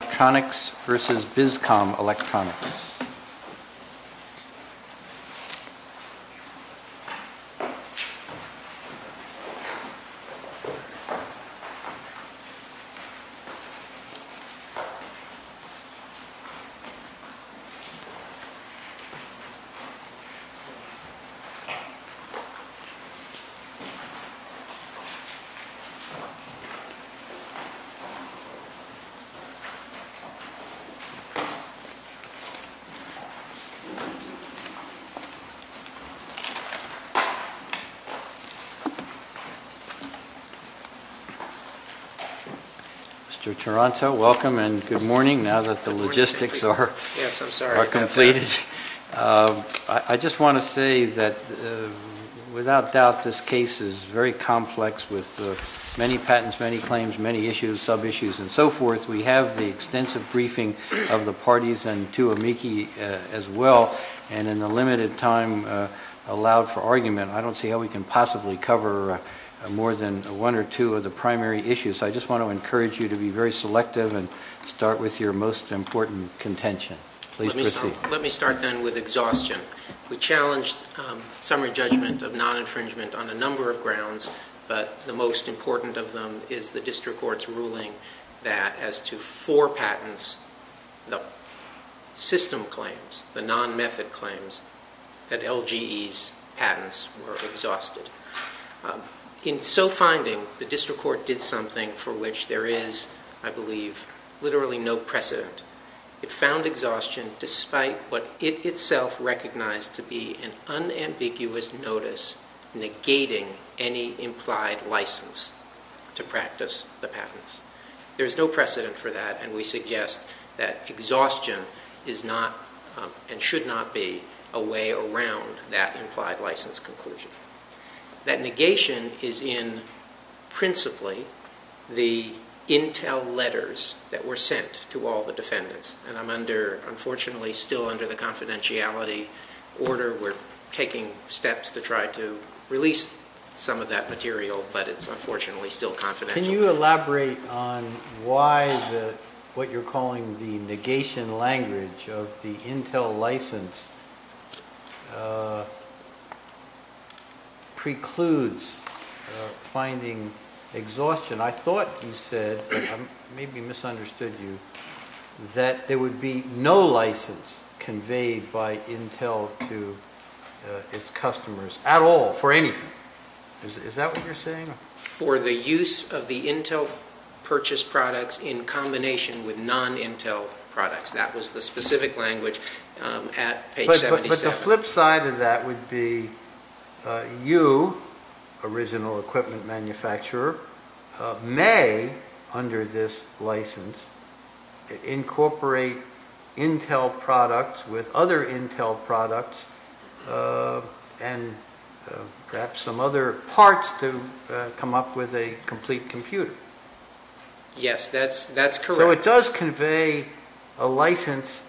Electronics v. Bizcom Electronics Mr. Toronto, welcome and good morning now that the logistics are completed. I just want to say that without doubt this case is very complex with many patents, many issues, sub-issues, and so forth. We have the extensive briefing of the parties and to amici as well, and in the limited time allowed for argument, I don't see how we can possibly cover more than one or two of the primary issues. I just want to encourage you to be very selective and start with your most important contention. Let me start then with exhaustion. We challenged summary judgment of non-infringement on a that as to four patents, the system claims, the non-method claims that LGE's patents were exhausted. In so finding, the district court did something for which there is, I believe, literally no precedent. It found exhaustion despite what it itself recognized to be an no precedent for that, and we suggest that exhaustion is not and should not be a way around that implied license conclusion. That negation is in principally the intel letters that were sent to all the defendants, and I'm under unfortunately still under the confidentiality order. We're taking steps to try to release some of that material, but it's unfortunately still confidential. Can you elaborate on why the, what you're calling the negation language of the intel license precludes finding exhaustion? I thought you said, maybe misunderstood you, that there would be no license conveyed by intel to its customers at all for anything. Is that what you're saying? For the use of the intel purchased products in combination with non-intel products. That was the specific language at page 77. But the flip side of that would be you, original equipment manufacturer, may, under this license, incorporate intel products with other intel products and perhaps some other parts to come up with a complete computer. Yes, that's correct. So it does convey a license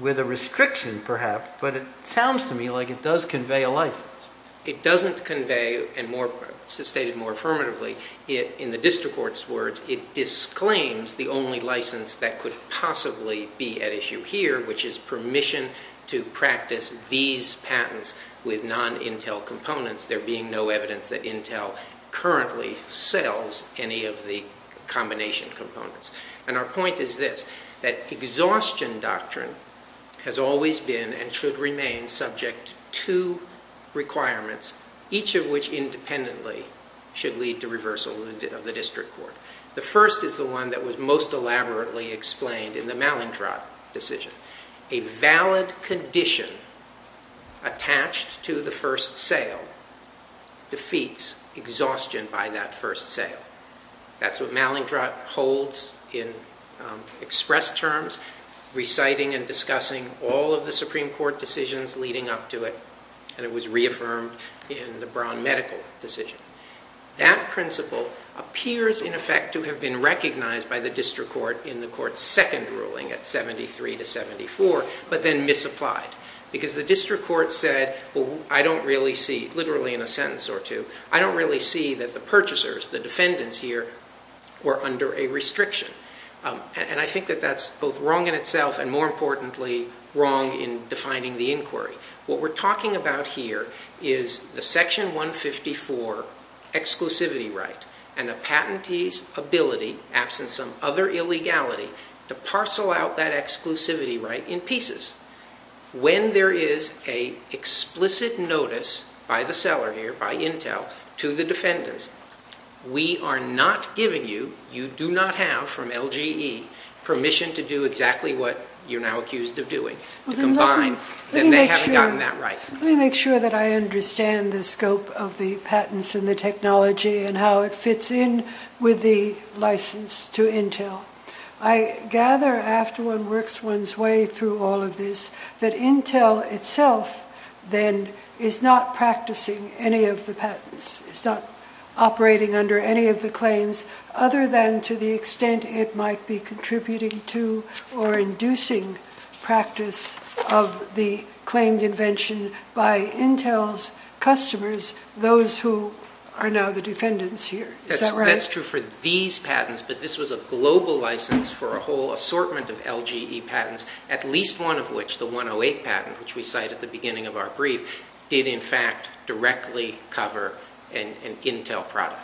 with a restriction perhaps, but it sounds to me like it does convey a license. It doesn't convey, and more, stated more affirmatively, in the district court's words, it disclaims the only license that could possibly be at issue here, which is permission to practice these patents with non-intel components, there being no evidence that intel currently sells any of the combination components. And our point is this, that exhaustion doctrine has always been and should remain subject to requirements, each of which independently should lead to reversal of the district court. The first is the one that was most elaborately explained in the Malintrot decision. A valid condition attached to the first sale defeats exhaustion by that first sale. That's what Malintrot holds in express terms, reciting and discussing all of the Supreme Court decisions leading up to it, and it was reaffirmed in the Brown medical decision. That principle appears, in effect, to have been recognized by the district court in the court's second ruling at 73 to 74, but then misapplied, because the district court said, well, I don't really see, literally in a sentence or two, I don't really see that the purchasers, the defendants here, were under a restriction. And I think that that's both wrong in itself and, more importantly, wrong in defining the inquiry. What we're talking about here is the Section 154 exclusivity right and a patentee's ability, absent some other illegality, to parcel out that exclusivity right in pieces. When there is an explicit notice by the seller here, by Intel, to the defendants, we are not giving you, you do not have from LGE, permission to do exactly what you're now accused of doing, to combine. And they haven't gotten that right. Let me make sure that I understand the scope of the patents and the technology and how it fits in with the license to Intel. I gather, after one works one's way through all of this, that Intel itself, then, is not practicing any of the patents. It's not operating under any of the claims, other than to the extent it might be contributing to or inducing practice of the claimed invention by Intel's customers, those who are now the defendants here. Is that right? That's true for these patents, but this was a global license for a whole assortment of LGE patents, at least one of which, the 108 patent, which we cite at the beginning of our brief, did, in fact, directly cover an Intel product.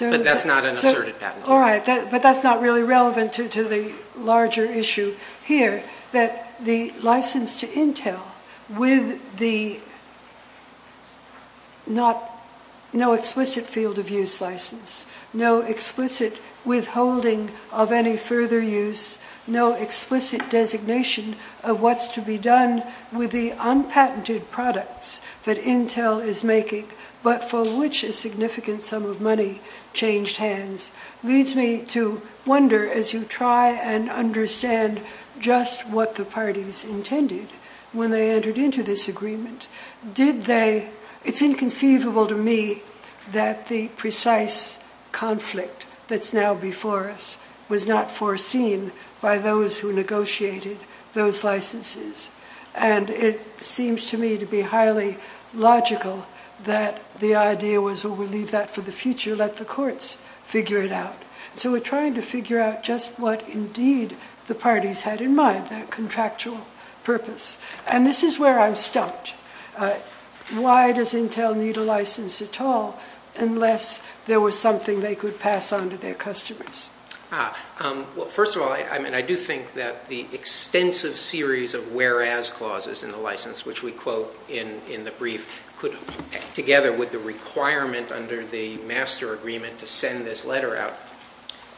But that's not an asserted patent. All right, but that's not really relevant to the larger issue here, that the license to Intel, with no explicit field of use license, no explicit withholding of any further use, no explicit designation of what's to be done with the unpatented products that Intel is It leads me to wonder, as you try and understand just what the parties intended when they entered into this agreement, did they... It's inconceivable to me that the precise conflict that's now before us was not foreseen by those who negotiated those licenses. It seems to me to be highly logical that the idea was, well, we'll leave that for the future, let the courts figure it out. So we're trying to figure out just what, indeed, the parties had in mind, that contractual purpose. And this is where I'm stumped. Why does Intel need a license at all unless there was something they could pass on to their customers? First of all, I do think that the extensive series of whereas clauses in the license, which we quote in the brief, could, together with the requirement under the master agreement to send this letter out,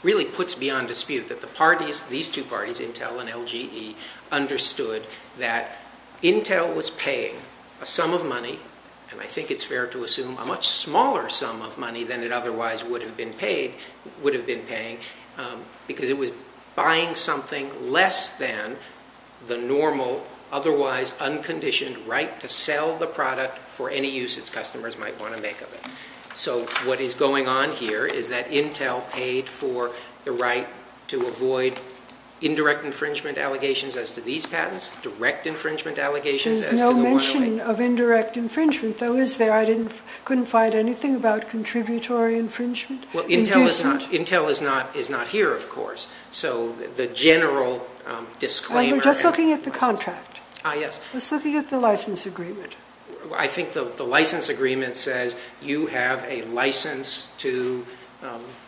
really puts beyond dispute that the parties, these two parties, Intel and LGE, understood that Intel was paying a sum of money, and I think it's fair to assume a much smaller sum of money than it otherwise would have been paying, because it was buying something less than the normal, otherwise unconditioned right to sell the product for any use its customers might want to make of it. So what is going on here is that Intel paid for the right to avoid indirect infringement allegations as to these patents, direct infringement allegations as to the 108. There's no mention of indirect infringement, though, is there? I couldn't find anything about contributory infringement. Intel is not here, of course. So the general disclaimer... I'm just looking at the contract. Ah, yes. I'm just looking at the license agreement. I think the license agreement says you have a license to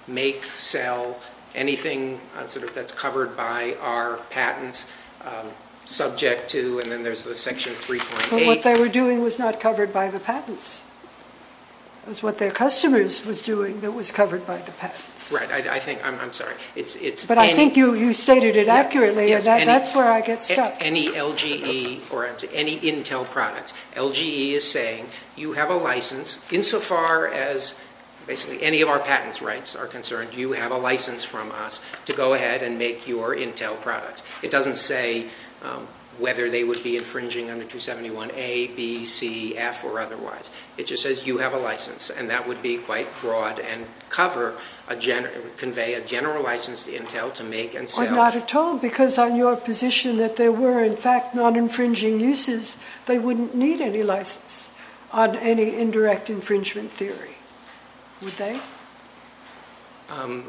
make, sell anything that's covered by our patents subject to, and then there's the section 3.8... But what they were doing was not covered by the patents. It was what their customers was doing that was covered by the patents. Right. I think... I'm sorry. But I think you stated it accurately, and that's where I get stuck. Any LGE or any Intel products, LGE is saying you have a license insofar as basically any of our patents rights are concerned, you have a license from us to go ahead and make your Intel products. It doesn't say whether they would be infringing under 271A, B, C, F, or otherwise. It just says you have a license, and that would be quite broad and convey a general license to Intel to make and sell... Or not at all, because on your position that there were, in fact, non-infringing uses, they wouldn't need any license on any indirect infringement theory, would they? On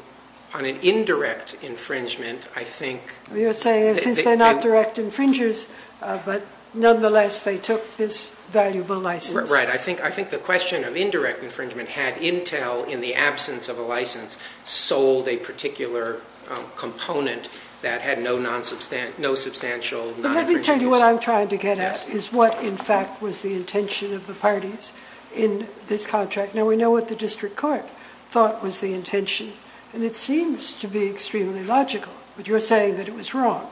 an indirect infringement, I think... You're saying since they're not direct infringers, but nonetheless they took this valuable license. Right. I think the question of indirect infringement had Intel, in the absence of a license, sold a particular component that had no substantial non-infringing use. But let me tell you what I'm trying to get at is what, in fact, was the intention of the parties in this contract. Now, we know what the district court thought was the intention, and it seems to be extremely logical. But you're saying that it was wrong.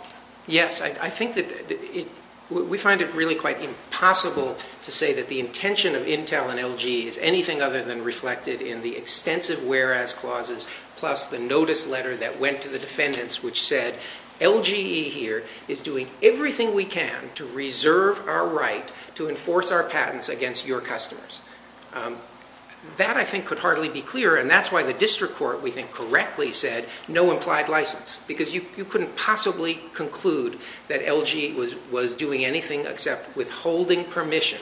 Yes, I think that... We find it really quite impossible to say that the intention of Intel and LGE is anything other than reflected in the extensive whereas clauses, plus the notice letter that went to the defendants which said, LGE here is doing everything we can to reserve our right to enforce our patents against your customers. That, I think, could hardly be clearer, and that's why the district court, we think, correctly said no implied license, because you couldn't possibly conclude that LGE was doing anything except withholding permission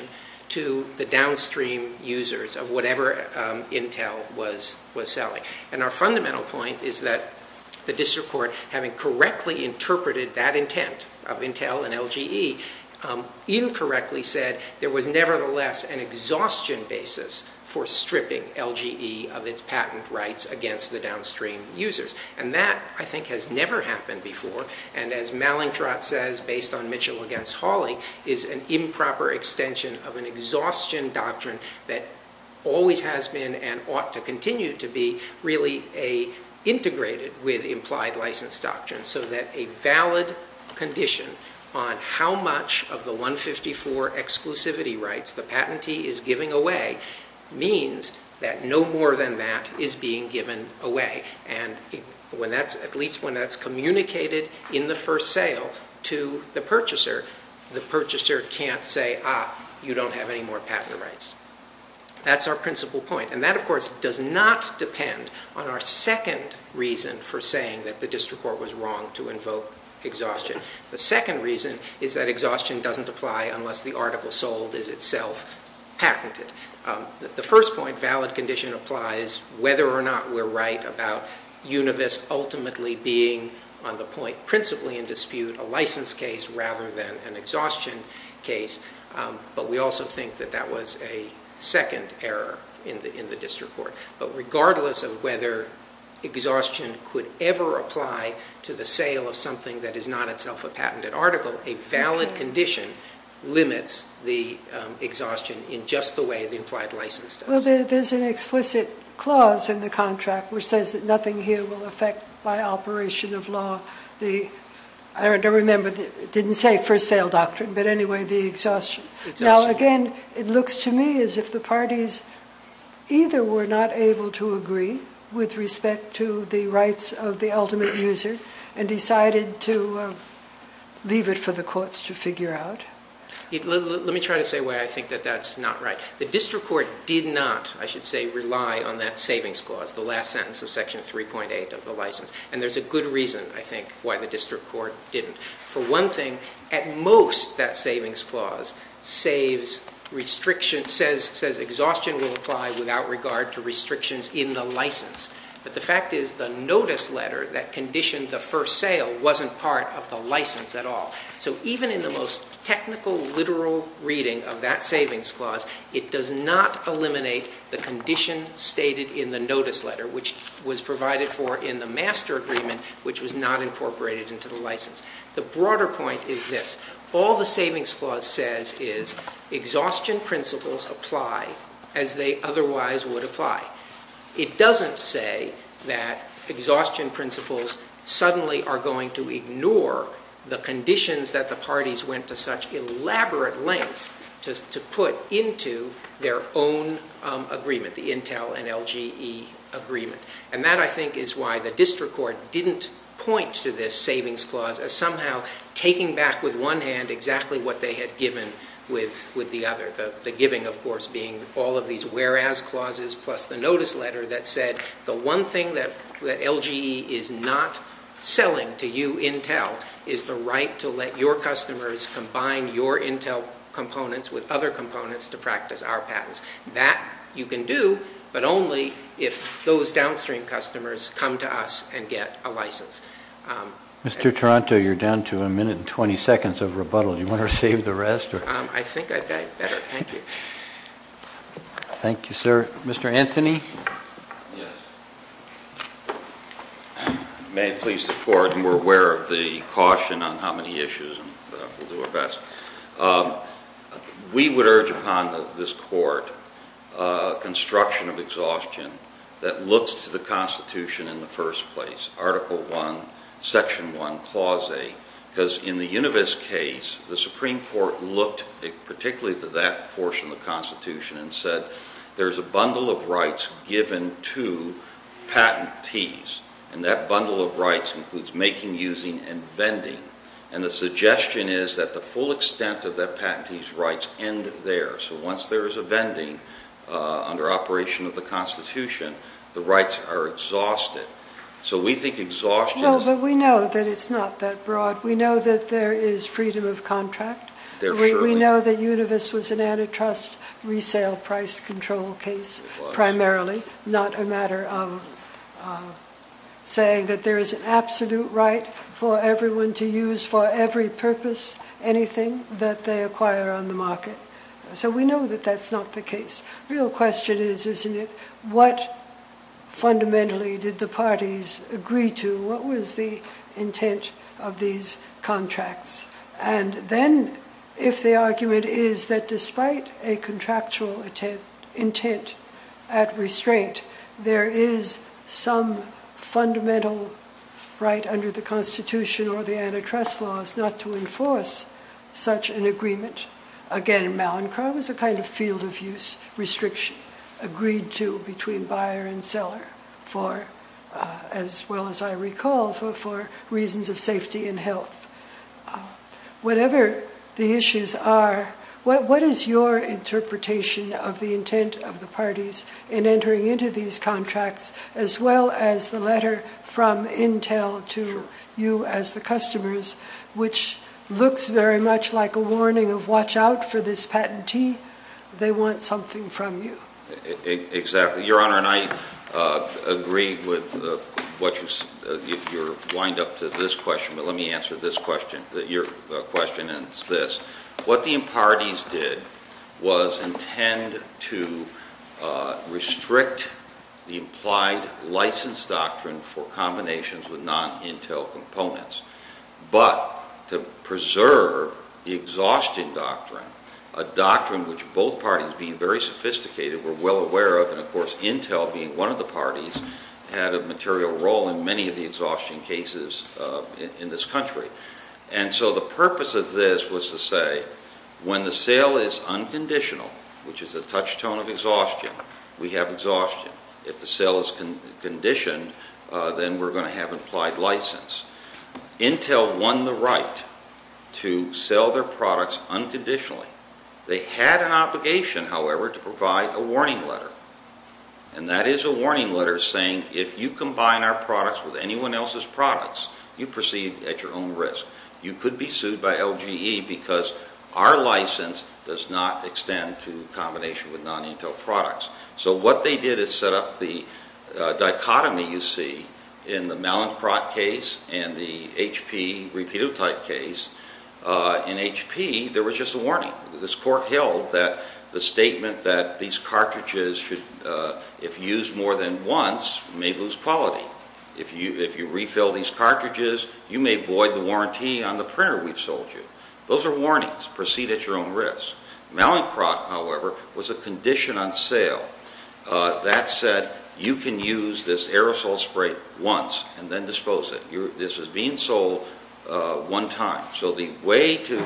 to the downstream users of whatever Intel was selling. And our fundamental point is that the district court, incorrectly said there was nevertheless an exhaustion basis for stripping LGE of its patent rights against the downstream users. And that, I think, has never happened before, and as Malintrot says, based on Mitchell against Hawley, is an improper extension of an exhaustion doctrine that always has been and ought to continue to be really integrated with implied license doctrines, so that a valid condition on how much of the 154 exclusivity rights the patentee is giving away means that no more than that is being given away. And at least when that's communicated in the first sale to the purchaser, the purchaser can't say, ah, you don't have any more patent rights. That's our principal point. And that, of course, does not depend on our second reason for saying that the district court was wrong to invoke exhaustion. The second reason is that exhaustion doesn't apply unless the article sold is itself patented. The first point, valid condition applies whether or not we're right about Univis ultimately being, on the point principally in dispute, a license case rather than an exhaustion case, but we also think that that was a second error in the district court. But regardless of whether exhaustion could ever apply to the sale of something that is not itself a patented article, a valid condition limits the exhaustion in just the way the implied license does. Well, there's an explicit clause in the contract which says that nothing here will affect by operation of law the, I don't remember, it didn't say first sale doctrine, but anyway, the exhaustion. Now, again, it looks to me as if the parties either were not able to agree with respect to the rights of the ultimate user and decided to leave it for the courts to figure out. Let me try to say why I think that that's not right. The district court did not, I should say, rely on that savings clause, the last sentence of Section 3.8 of the license. And there's a good reason, I think, why the district court didn't. For one thing, at most that savings clause says exhaustion will apply without regard to restrictions in the license. But the fact is the notice letter that conditioned the first sale wasn't part of the license at all. So even in the most technical, literal reading of that savings clause, it does not eliminate the condition stated in the notice letter, which was provided for in the master agreement, which was not incorporated into the license. The broader point is this. All the savings clause says is exhaustion principles apply as they otherwise would apply. It doesn't say that exhaustion principles suddenly are going to ignore the conditions that the parties went to such elaborate lengths to put into their own agreement, the Intel and LGE agreement. And that, I think, is why the district court didn't point to this savings clause as somehow taking back with one hand exactly what they had given with the other, the giving, of course, being all of these whereas clauses plus the notice letter that said the one thing that LGE is not selling to you, Intel, is the right to let your customers combine your Intel components with other components to practice our patents. That you can do, but only if those downstream customers come to us and get a license. Mr. Taranto, you're down to a minute and 20 seconds of rebuttal. Do you want to save the rest? I think I've got it better. Thank you. Thank you, sir. Mr. Anthony? Yes. May it please the court, and we're aware of the caution on how many issues, and we'll do our best. We would urge upon this court construction of exhaustion that looks to the Constitution in the first place, Article I, Section I, Clause A, because in the Univis case, the Supreme Court looked particularly to that portion of the Constitution and said there's a bundle of rights given to patentees, and that bundle of rights includes making, using, and vending, and the suggestion is that the full extent of that patentee's rights end there. So once there is a vending under operation of the Constitution, the rights are exhausted. So we think exhaustion is- No, but we know that it's not that broad. We know that there is freedom of contract. We know that Univis was an antitrust resale price control case primarily, not a matter of saying that there is an absolute right for everyone to use for every purpose anything that they acquire on the market. So we know that that's not the case. The real question is, isn't it, what fundamentally did the parties agree to? What was the intent of these contracts? And then, if the argument is that despite a contractual intent at restraint, there is some fundamental right under the Constitution or the antitrust laws not to enforce such an agreement, again, malincrom is a kind of field of use restriction agreed to between buyer and seller for, as well as I recall, for reasons of safety and health. Whatever the issues are, what is your interpretation of the intent of the parties in entering into these contracts, as well as the letter from Intel to you as the customers, which looks very much like a warning of watch out for this patentee. They want something from you. Exactly. Your Honor, and I agree with what you're wind up to this question, but let me answer this question, your question, and it's this. What the parties did was intend to restrict the implied license doctrine for combinations with non-Intel components, but to preserve the exhaustion doctrine, a doctrine which both parties, being very sophisticated, were well aware of, and of course Intel being one of the parties, had a material role in many of the exhaustion cases in this country. And so the purpose of this was to say when the sale is unconditional, which is a touchstone of exhaustion, we have exhaustion. If the sale is conditioned, then we're going to have implied license. Intel won the right to sell their products unconditionally. They had an obligation, however, to provide a warning letter. And that is a warning letter saying if you combine our products with anyone else's products, you proceed at your own risk. You could be sued by LGE because our license does not extend to combination with non-Intel products. So what they did is set up the dichotomy you see in the Mallinckrodt case and the HP repeated type case. In HP, there was just a warning. This court held that the statement that these cartridges, if used more than once, may lose quality. If you refill these cartridges, you may void the warranty on the printer we've sold you. Those are warnings. Proceed at your own risk. Mallinckrodt, however, was a condition on sale that said you can use this aerosol spray once and then dispose it. This was being sold one time. So the way to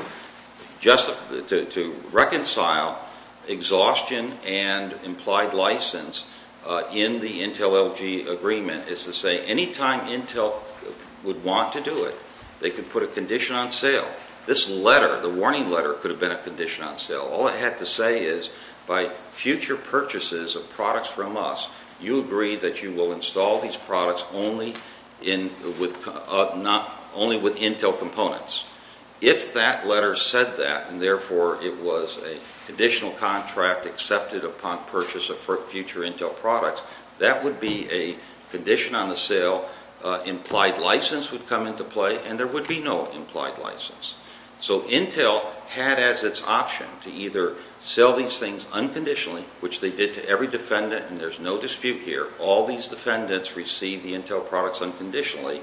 reconcile exhaustion and implied license in the Intel-LG agreement is to say any time Intel would want to do it, they could put a condition on sale. This letter, the warning letter, could have been a condition on sale. All it had to say is by future purchases of products from us, you agree that you will install these products only with Intel components. If that letter said that and therefore it was a conditional contract accepted upon purchase of future Intel products, that would be a condition on the sale, implied license would come into play, and there would be no implied license. So Intel had as its option to either sell these things unconditionally, which they did to every defendant, and there's no dispute here. All these defendants received the Intel products unconditionally,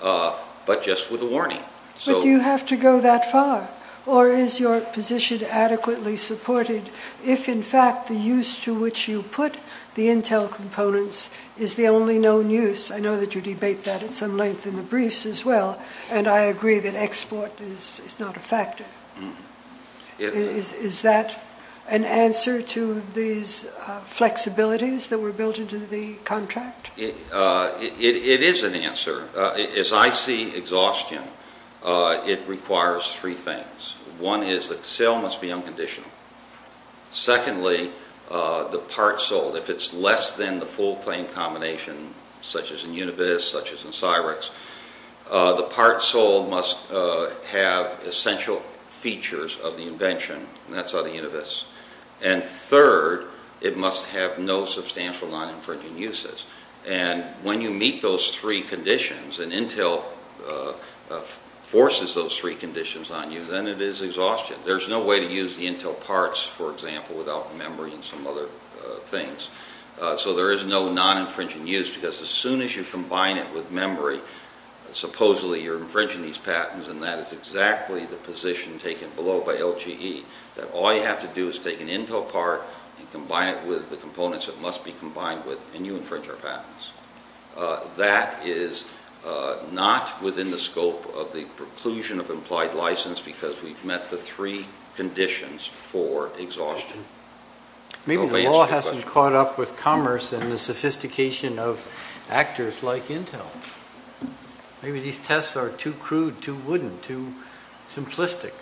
but just with a warning. But do you have to go that far? Or is your position adequately supported if, in fact, the use to which you put the Intel components is the only known use? I know that you debate that at some length in the briefs as well, and I agree that export is not a factor. Is that an answer to these flexibilities that were built into the contract? It is an answer. As I see exhaustion, it requires three things. One is that the sale must be unconditional. Secondly, the part sold, if it's less than the full claim combination, such as in Unibis, such as in Cyrix, the part sold must have essential features of the invention, and that's on the Unibis. And third, it must have no substantial non-infringing uses. And when you meet those three conditions and Intel forces those three conditions on you, then it is exhaustion. There's no way to use the Intel parts, for example, without memory and some other things. So there is no non-infringing use, because as soon as you combine it with memory, supposedly you're infringing these patents, and that is exactly the position taken below by LGE, that all you have to do is take an Intel part and combine it with the components it must be combined with, and you infringe our patents. That is not within the scope of the preclusion of implied license, because we've met the three conditions for exhaustion. Maybe the law hasn't caught up with commerce and the sophistication of actors like Intel. Maybe these tests are too crude, too wooden, too simplistic.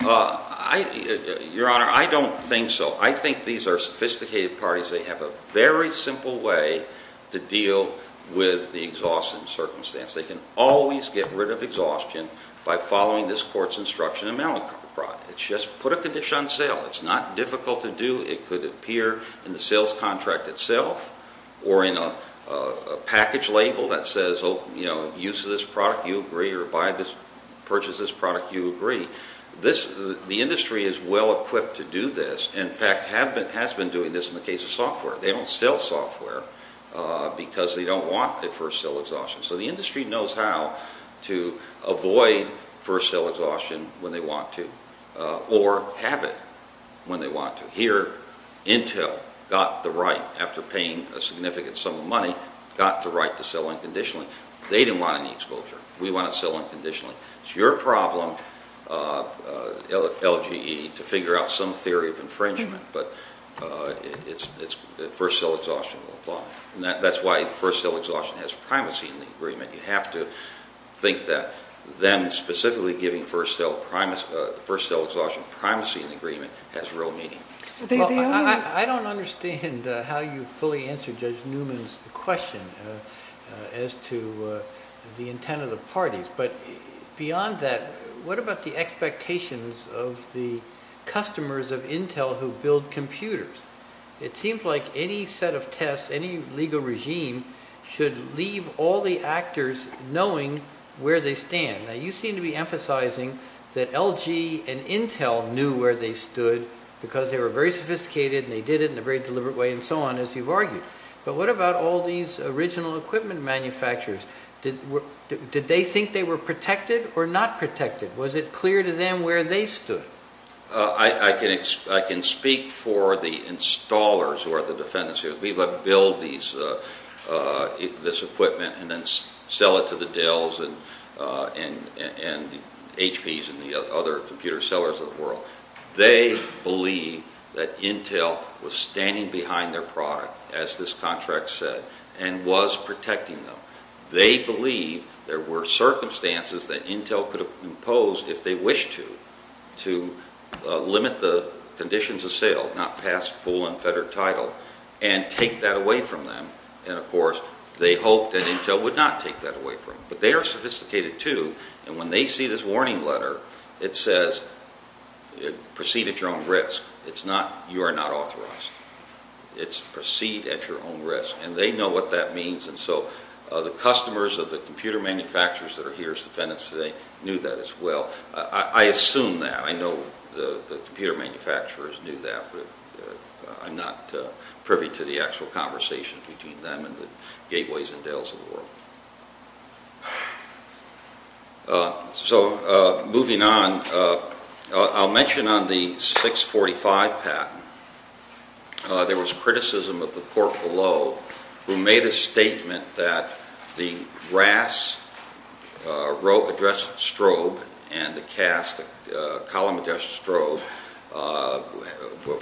Your Honor, I don't think so. I think these are sophisticated parties. They have a very simple way to deal with the exhaustion circumstance. They can always get rid of exhaustion by following this court's instruction in Malacate. It's just put a condition on sale. It's not difficult to do. It could appear in the sales contract itself or in a package label that says, use this product, you agree, or purchase this product, you agree. The industry is well-equipped to do this. In fact, it has been doing this in the case of software. They don't sell software because they don't want a first sale exhaustion. So the industry knows how to avoid first sale exhaustion when they want to, or have it when they want to. Here, Intel got the right, after paying a significant sum of money, got the right to sell unconditionally. They didn't want any exposure. We want to sell unconditionally. It's your problem, LGE, to figure out some theory of infringement, but first sale exhaustion will apply. That's why first sale exhaustion has primacy in the agreement. You have to think that then specifically giving first sale exhaustion primacy in the agreement has real meaning. I don't understand how you fully answered Judge Newman's question as to the intent of the parties. But beyond that, what about the expectations of the customers of Intel who build computers? It seems like any set of tests, any legal regime, should leave all the actors knowing where they stand. Now, you seem to be emphasizing that LG and Intel knew where they stood because they were very sophisticated and they did it in a very deliberate way and so on, as you've argued. But what about all these original equipment manufacturers? Did they think they were protected or not protected? Was it clear to them where they stood? I can speak for the installers who are the defendants here. We let them build this equipment and then sell it to the Dells and HPs and the other computer sellers of the world. They believe that Intel was standing behind their product, as this contract said, and was protecting them. They believe there were circumstances that Intel could impose, if they wished to, to limit the conditions of sale, not pass full unfettered title, and take that away from them. And of course, they hoped that Intel would not take that away from them. But they are sophisticated, too, and when they see this warning letter, it says, proceed at your own risk. It's not, you are not authorized. It's proceed at your own risk. And they know what that means. And so the customers of the computer manufacturers that are here as defendants today knew that as well. I assume that. I know the computer manufacturers knew that, but I'm not privy to the actual conversations between them and the Gateways and Dells of the world. So moving on, I'll mention on the 645 patent, there was criticism of the court below, who made a statement that the RAS address strobe and the CAS, the column address strobe,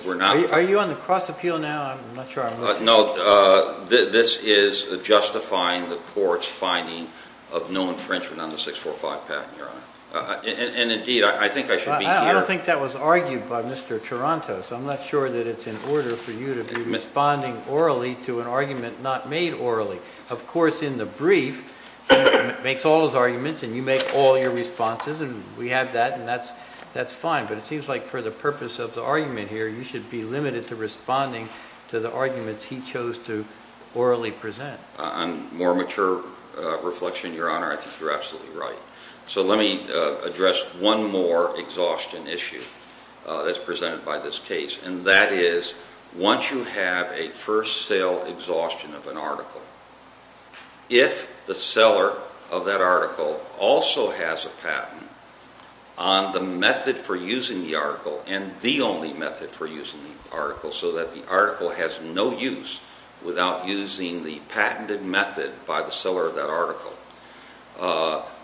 were not. Are you on the cross-appeal now? I'm not sure I'm listening. No, this is justifying the court's finding of no infringement on the 645 patent, Your Honor. And indeed, I think I should be here. Well, I think that was argued by Mr. Tarantos. I'm not sure that it's in order for you to be responding orally to an argument not made orally. Of course, in the brief, he makes all his arguments and you make all your responses, and we have that, and that's fine. But it seems like for the purpose of the argument here, you should be limited to responding to the arguments he chose to orally present. On more mature reflection, Your Honor, I think you're absolutely right. So let me address one more exhaustion issue that's presented by this case, and that is once you have a first sale exhaustion of an article, if the seller of that article also has a patent on the method for using the article and the only method for using the article so that the article has no use without using the patented method by the seller of that article,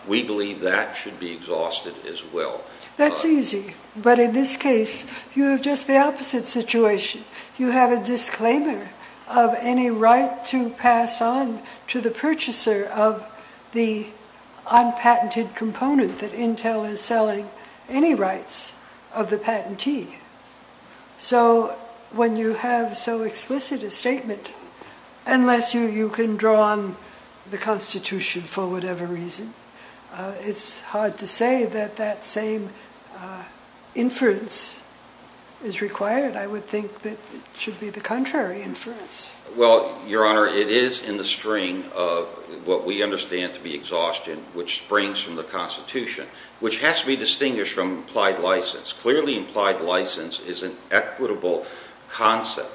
we believe that should be exhausted as well. That's easy. But in this case, you have just the opposite situation. You have a disclaimer of any right to pass on to the purchaser of the unpatented component that Intel is selling any rights of the patentee. So when you have so explicit a statement, unless you can draw on the Constitution for whatever reason, it's hard to say that that same inference is required. I would think that it should be the contrary inference. Well, Your Honor, it is in the string of what we understand to be exhaustion which springs from the Constitution, which has to be distinguished from implied license. Clearly implied license is an equitable concept.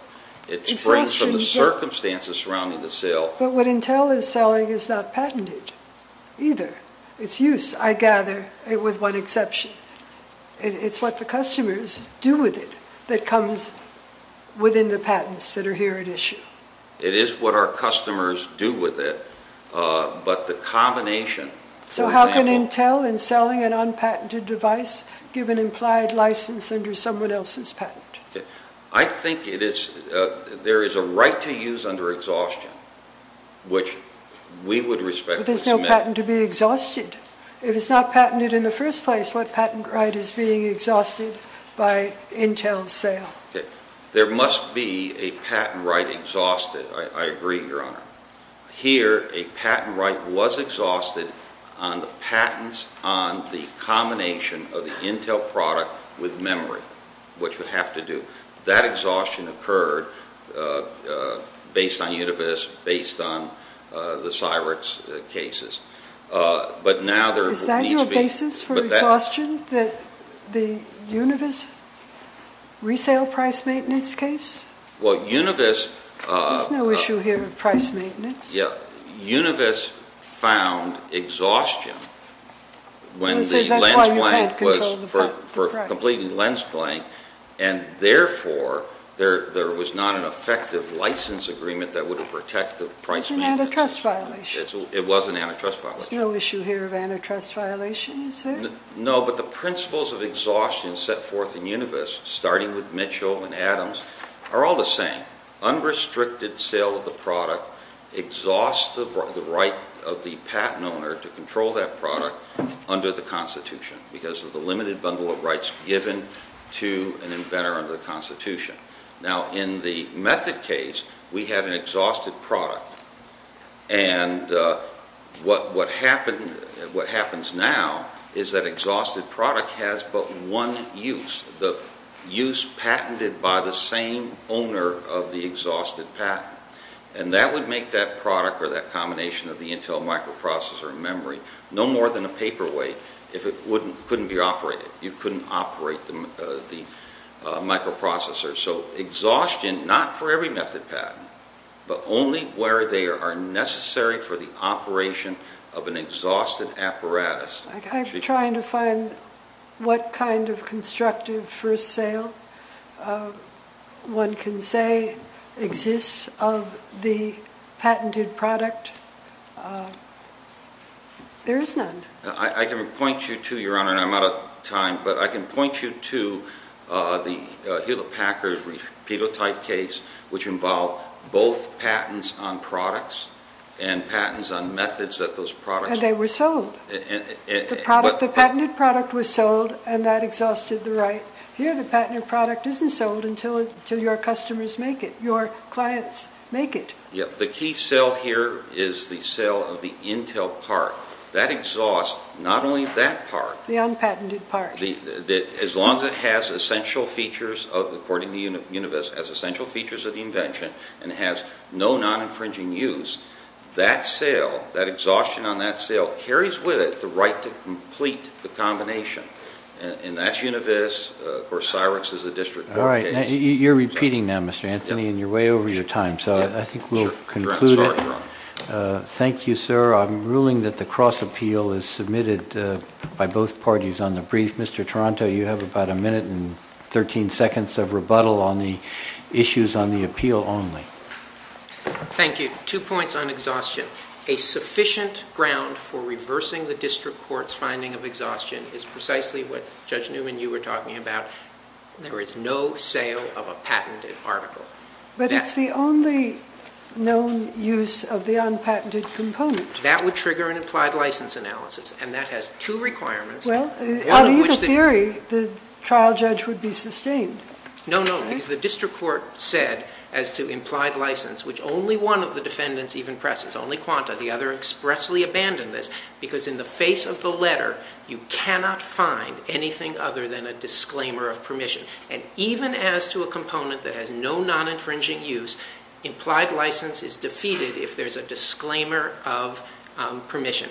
It springs from the circumstances surrounding the sale. But what Intel is selling is not patented either. It's used, I gather, with one exception. It's what the customers do with it that comes within the patents that are here at issue. It is what our customers do with it, but the combination, for example... ...implied license under someone else's patent. I think there is a right to use under exhaustion, which we would respect... But there's no patent to be exhausted. If it's not patented in the first place, what patent right is being exhausted by Intel's sale? There must be a patent right exhausted. I agree, Your Honor. Here, a patent right was exhausted on the patents on the combination of the Intel product with memory, which would have to do. That exhaustion occurred based on Univis, based on the Cyrix cases. Is that your basis for exhaustion, the Univis resale price maintenance case? Well, Univis... There's no issue here with price maintenance. Yeah. Univis found exhaustion when the lens blank was... That's why you can't control the price. ...for completing lens blank. And therefore, there was not an effective license agreement that would have protected price maintenance. It's an antitrust violation. It was an antitrust violation. There's no issue here of antitrust violation, you say? No, but the principles of exhaustion set forth in Univis, starting with Mitchell and Adams, are all the same. Unrestricted sale of the product exhausts the right of the patent owner to control that product under the Constitution because of the limited bundle of rights given to an inventor under the Constitution. Now, in the Method case, we had an exhausted product. And what happens now is that exhausted product has but one use. The use patented by the same owner of the exhausted patent. And that would make that product or that combination of the Intel microprocessor and memory no more than a paperweight if it couldn't be operated. You couldn't operate the microprocessor. So exhaustion, not for every Method patent, but only where they are necessary for the operation of an exhausted apparatus. I'm trying to find what kind of constructive first sale one can say exists of the patented product. There is none. I can point you to, Your Honor, and I'm out of time, but I can point you to the Hewlett-Packard repeal type case, which involved both patents on products and patents on Methods that those products were sold. The patented product was sold, and that exhausted the right. Here, the patented product isn't sold until your customers make it, your clients make it. The key sale here is the sale of the Intel part. That exhaust, not only that part. The unpatented part. As long as it has essential features, according to the universe, has essential features of the invention and has no non-infringing use, that sale, that exhaustion on that sale, carries with it the right to complete the combination. And that's universe. Of course, Cyrix is a district court case. You're repeating now, Mr. Anthony, and you're way over your time. So I think we'll conclude it. Thank you, sir. I'm ruling that the cross-appeal is submitted by both parties on the brief. Mr. Toronto, you have about a minute and 13 seconds of rebuttal on the issues on the appeal only. Thank you. Two points on exhaustion. A sufficient ground for reversing the district court's finding of exhaustion is precisely what Judge Newman and you were talking about. There is no sale of a patented article. But it's the only known use of the unpatented component. That would trigger an implied license analysis, and that has two requirements. Well, on either theory, the trial judge would be sustained. No, no, because the district court said as to implied license, which only one of the defendants even presses, only Quanta, the other expressly abandoned this, because in the face of the letter, you cannot find anything other than a disclaimer of permission. And even as to a component that has no non-infringing use, implied license is defeated if there's a disclaimer of permission.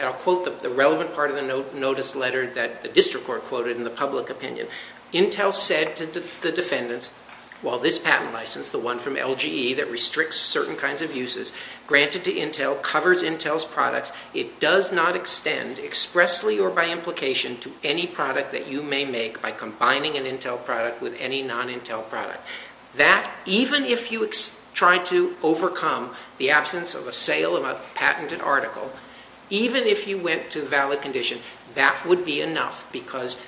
I'll quote the relevant part of the notice letter that the district court quoted in the public opinion. Intel said to the defendants, while this patent license, the one from LGE that restricts certain kinds of uses, granted to Intel, covers Intel's products, it does not extend expressly or by implication to any product that you may make by combining an Intel product with any non-Intel product. That, even if you tried to overcome the absence of a sale of a patented article, even if you went to valid condition, that would be enough, because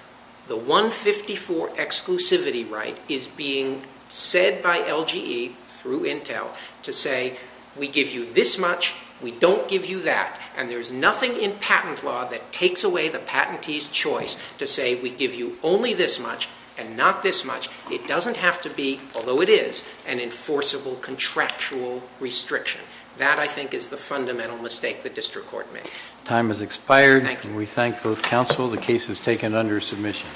the 154 exclusivity right is being said by LGE through Intel to say, we give you this much, we don't give you that, and there's nothing in patent law that takes away the patentee's choice to say, we give you only this much and not this much. It doesn't have to be, although it is, an enforceable contractual restriction. That, I think, is the fundamental mistake the district court made. Time has expired. We thank both counsel. The case is taken under submission.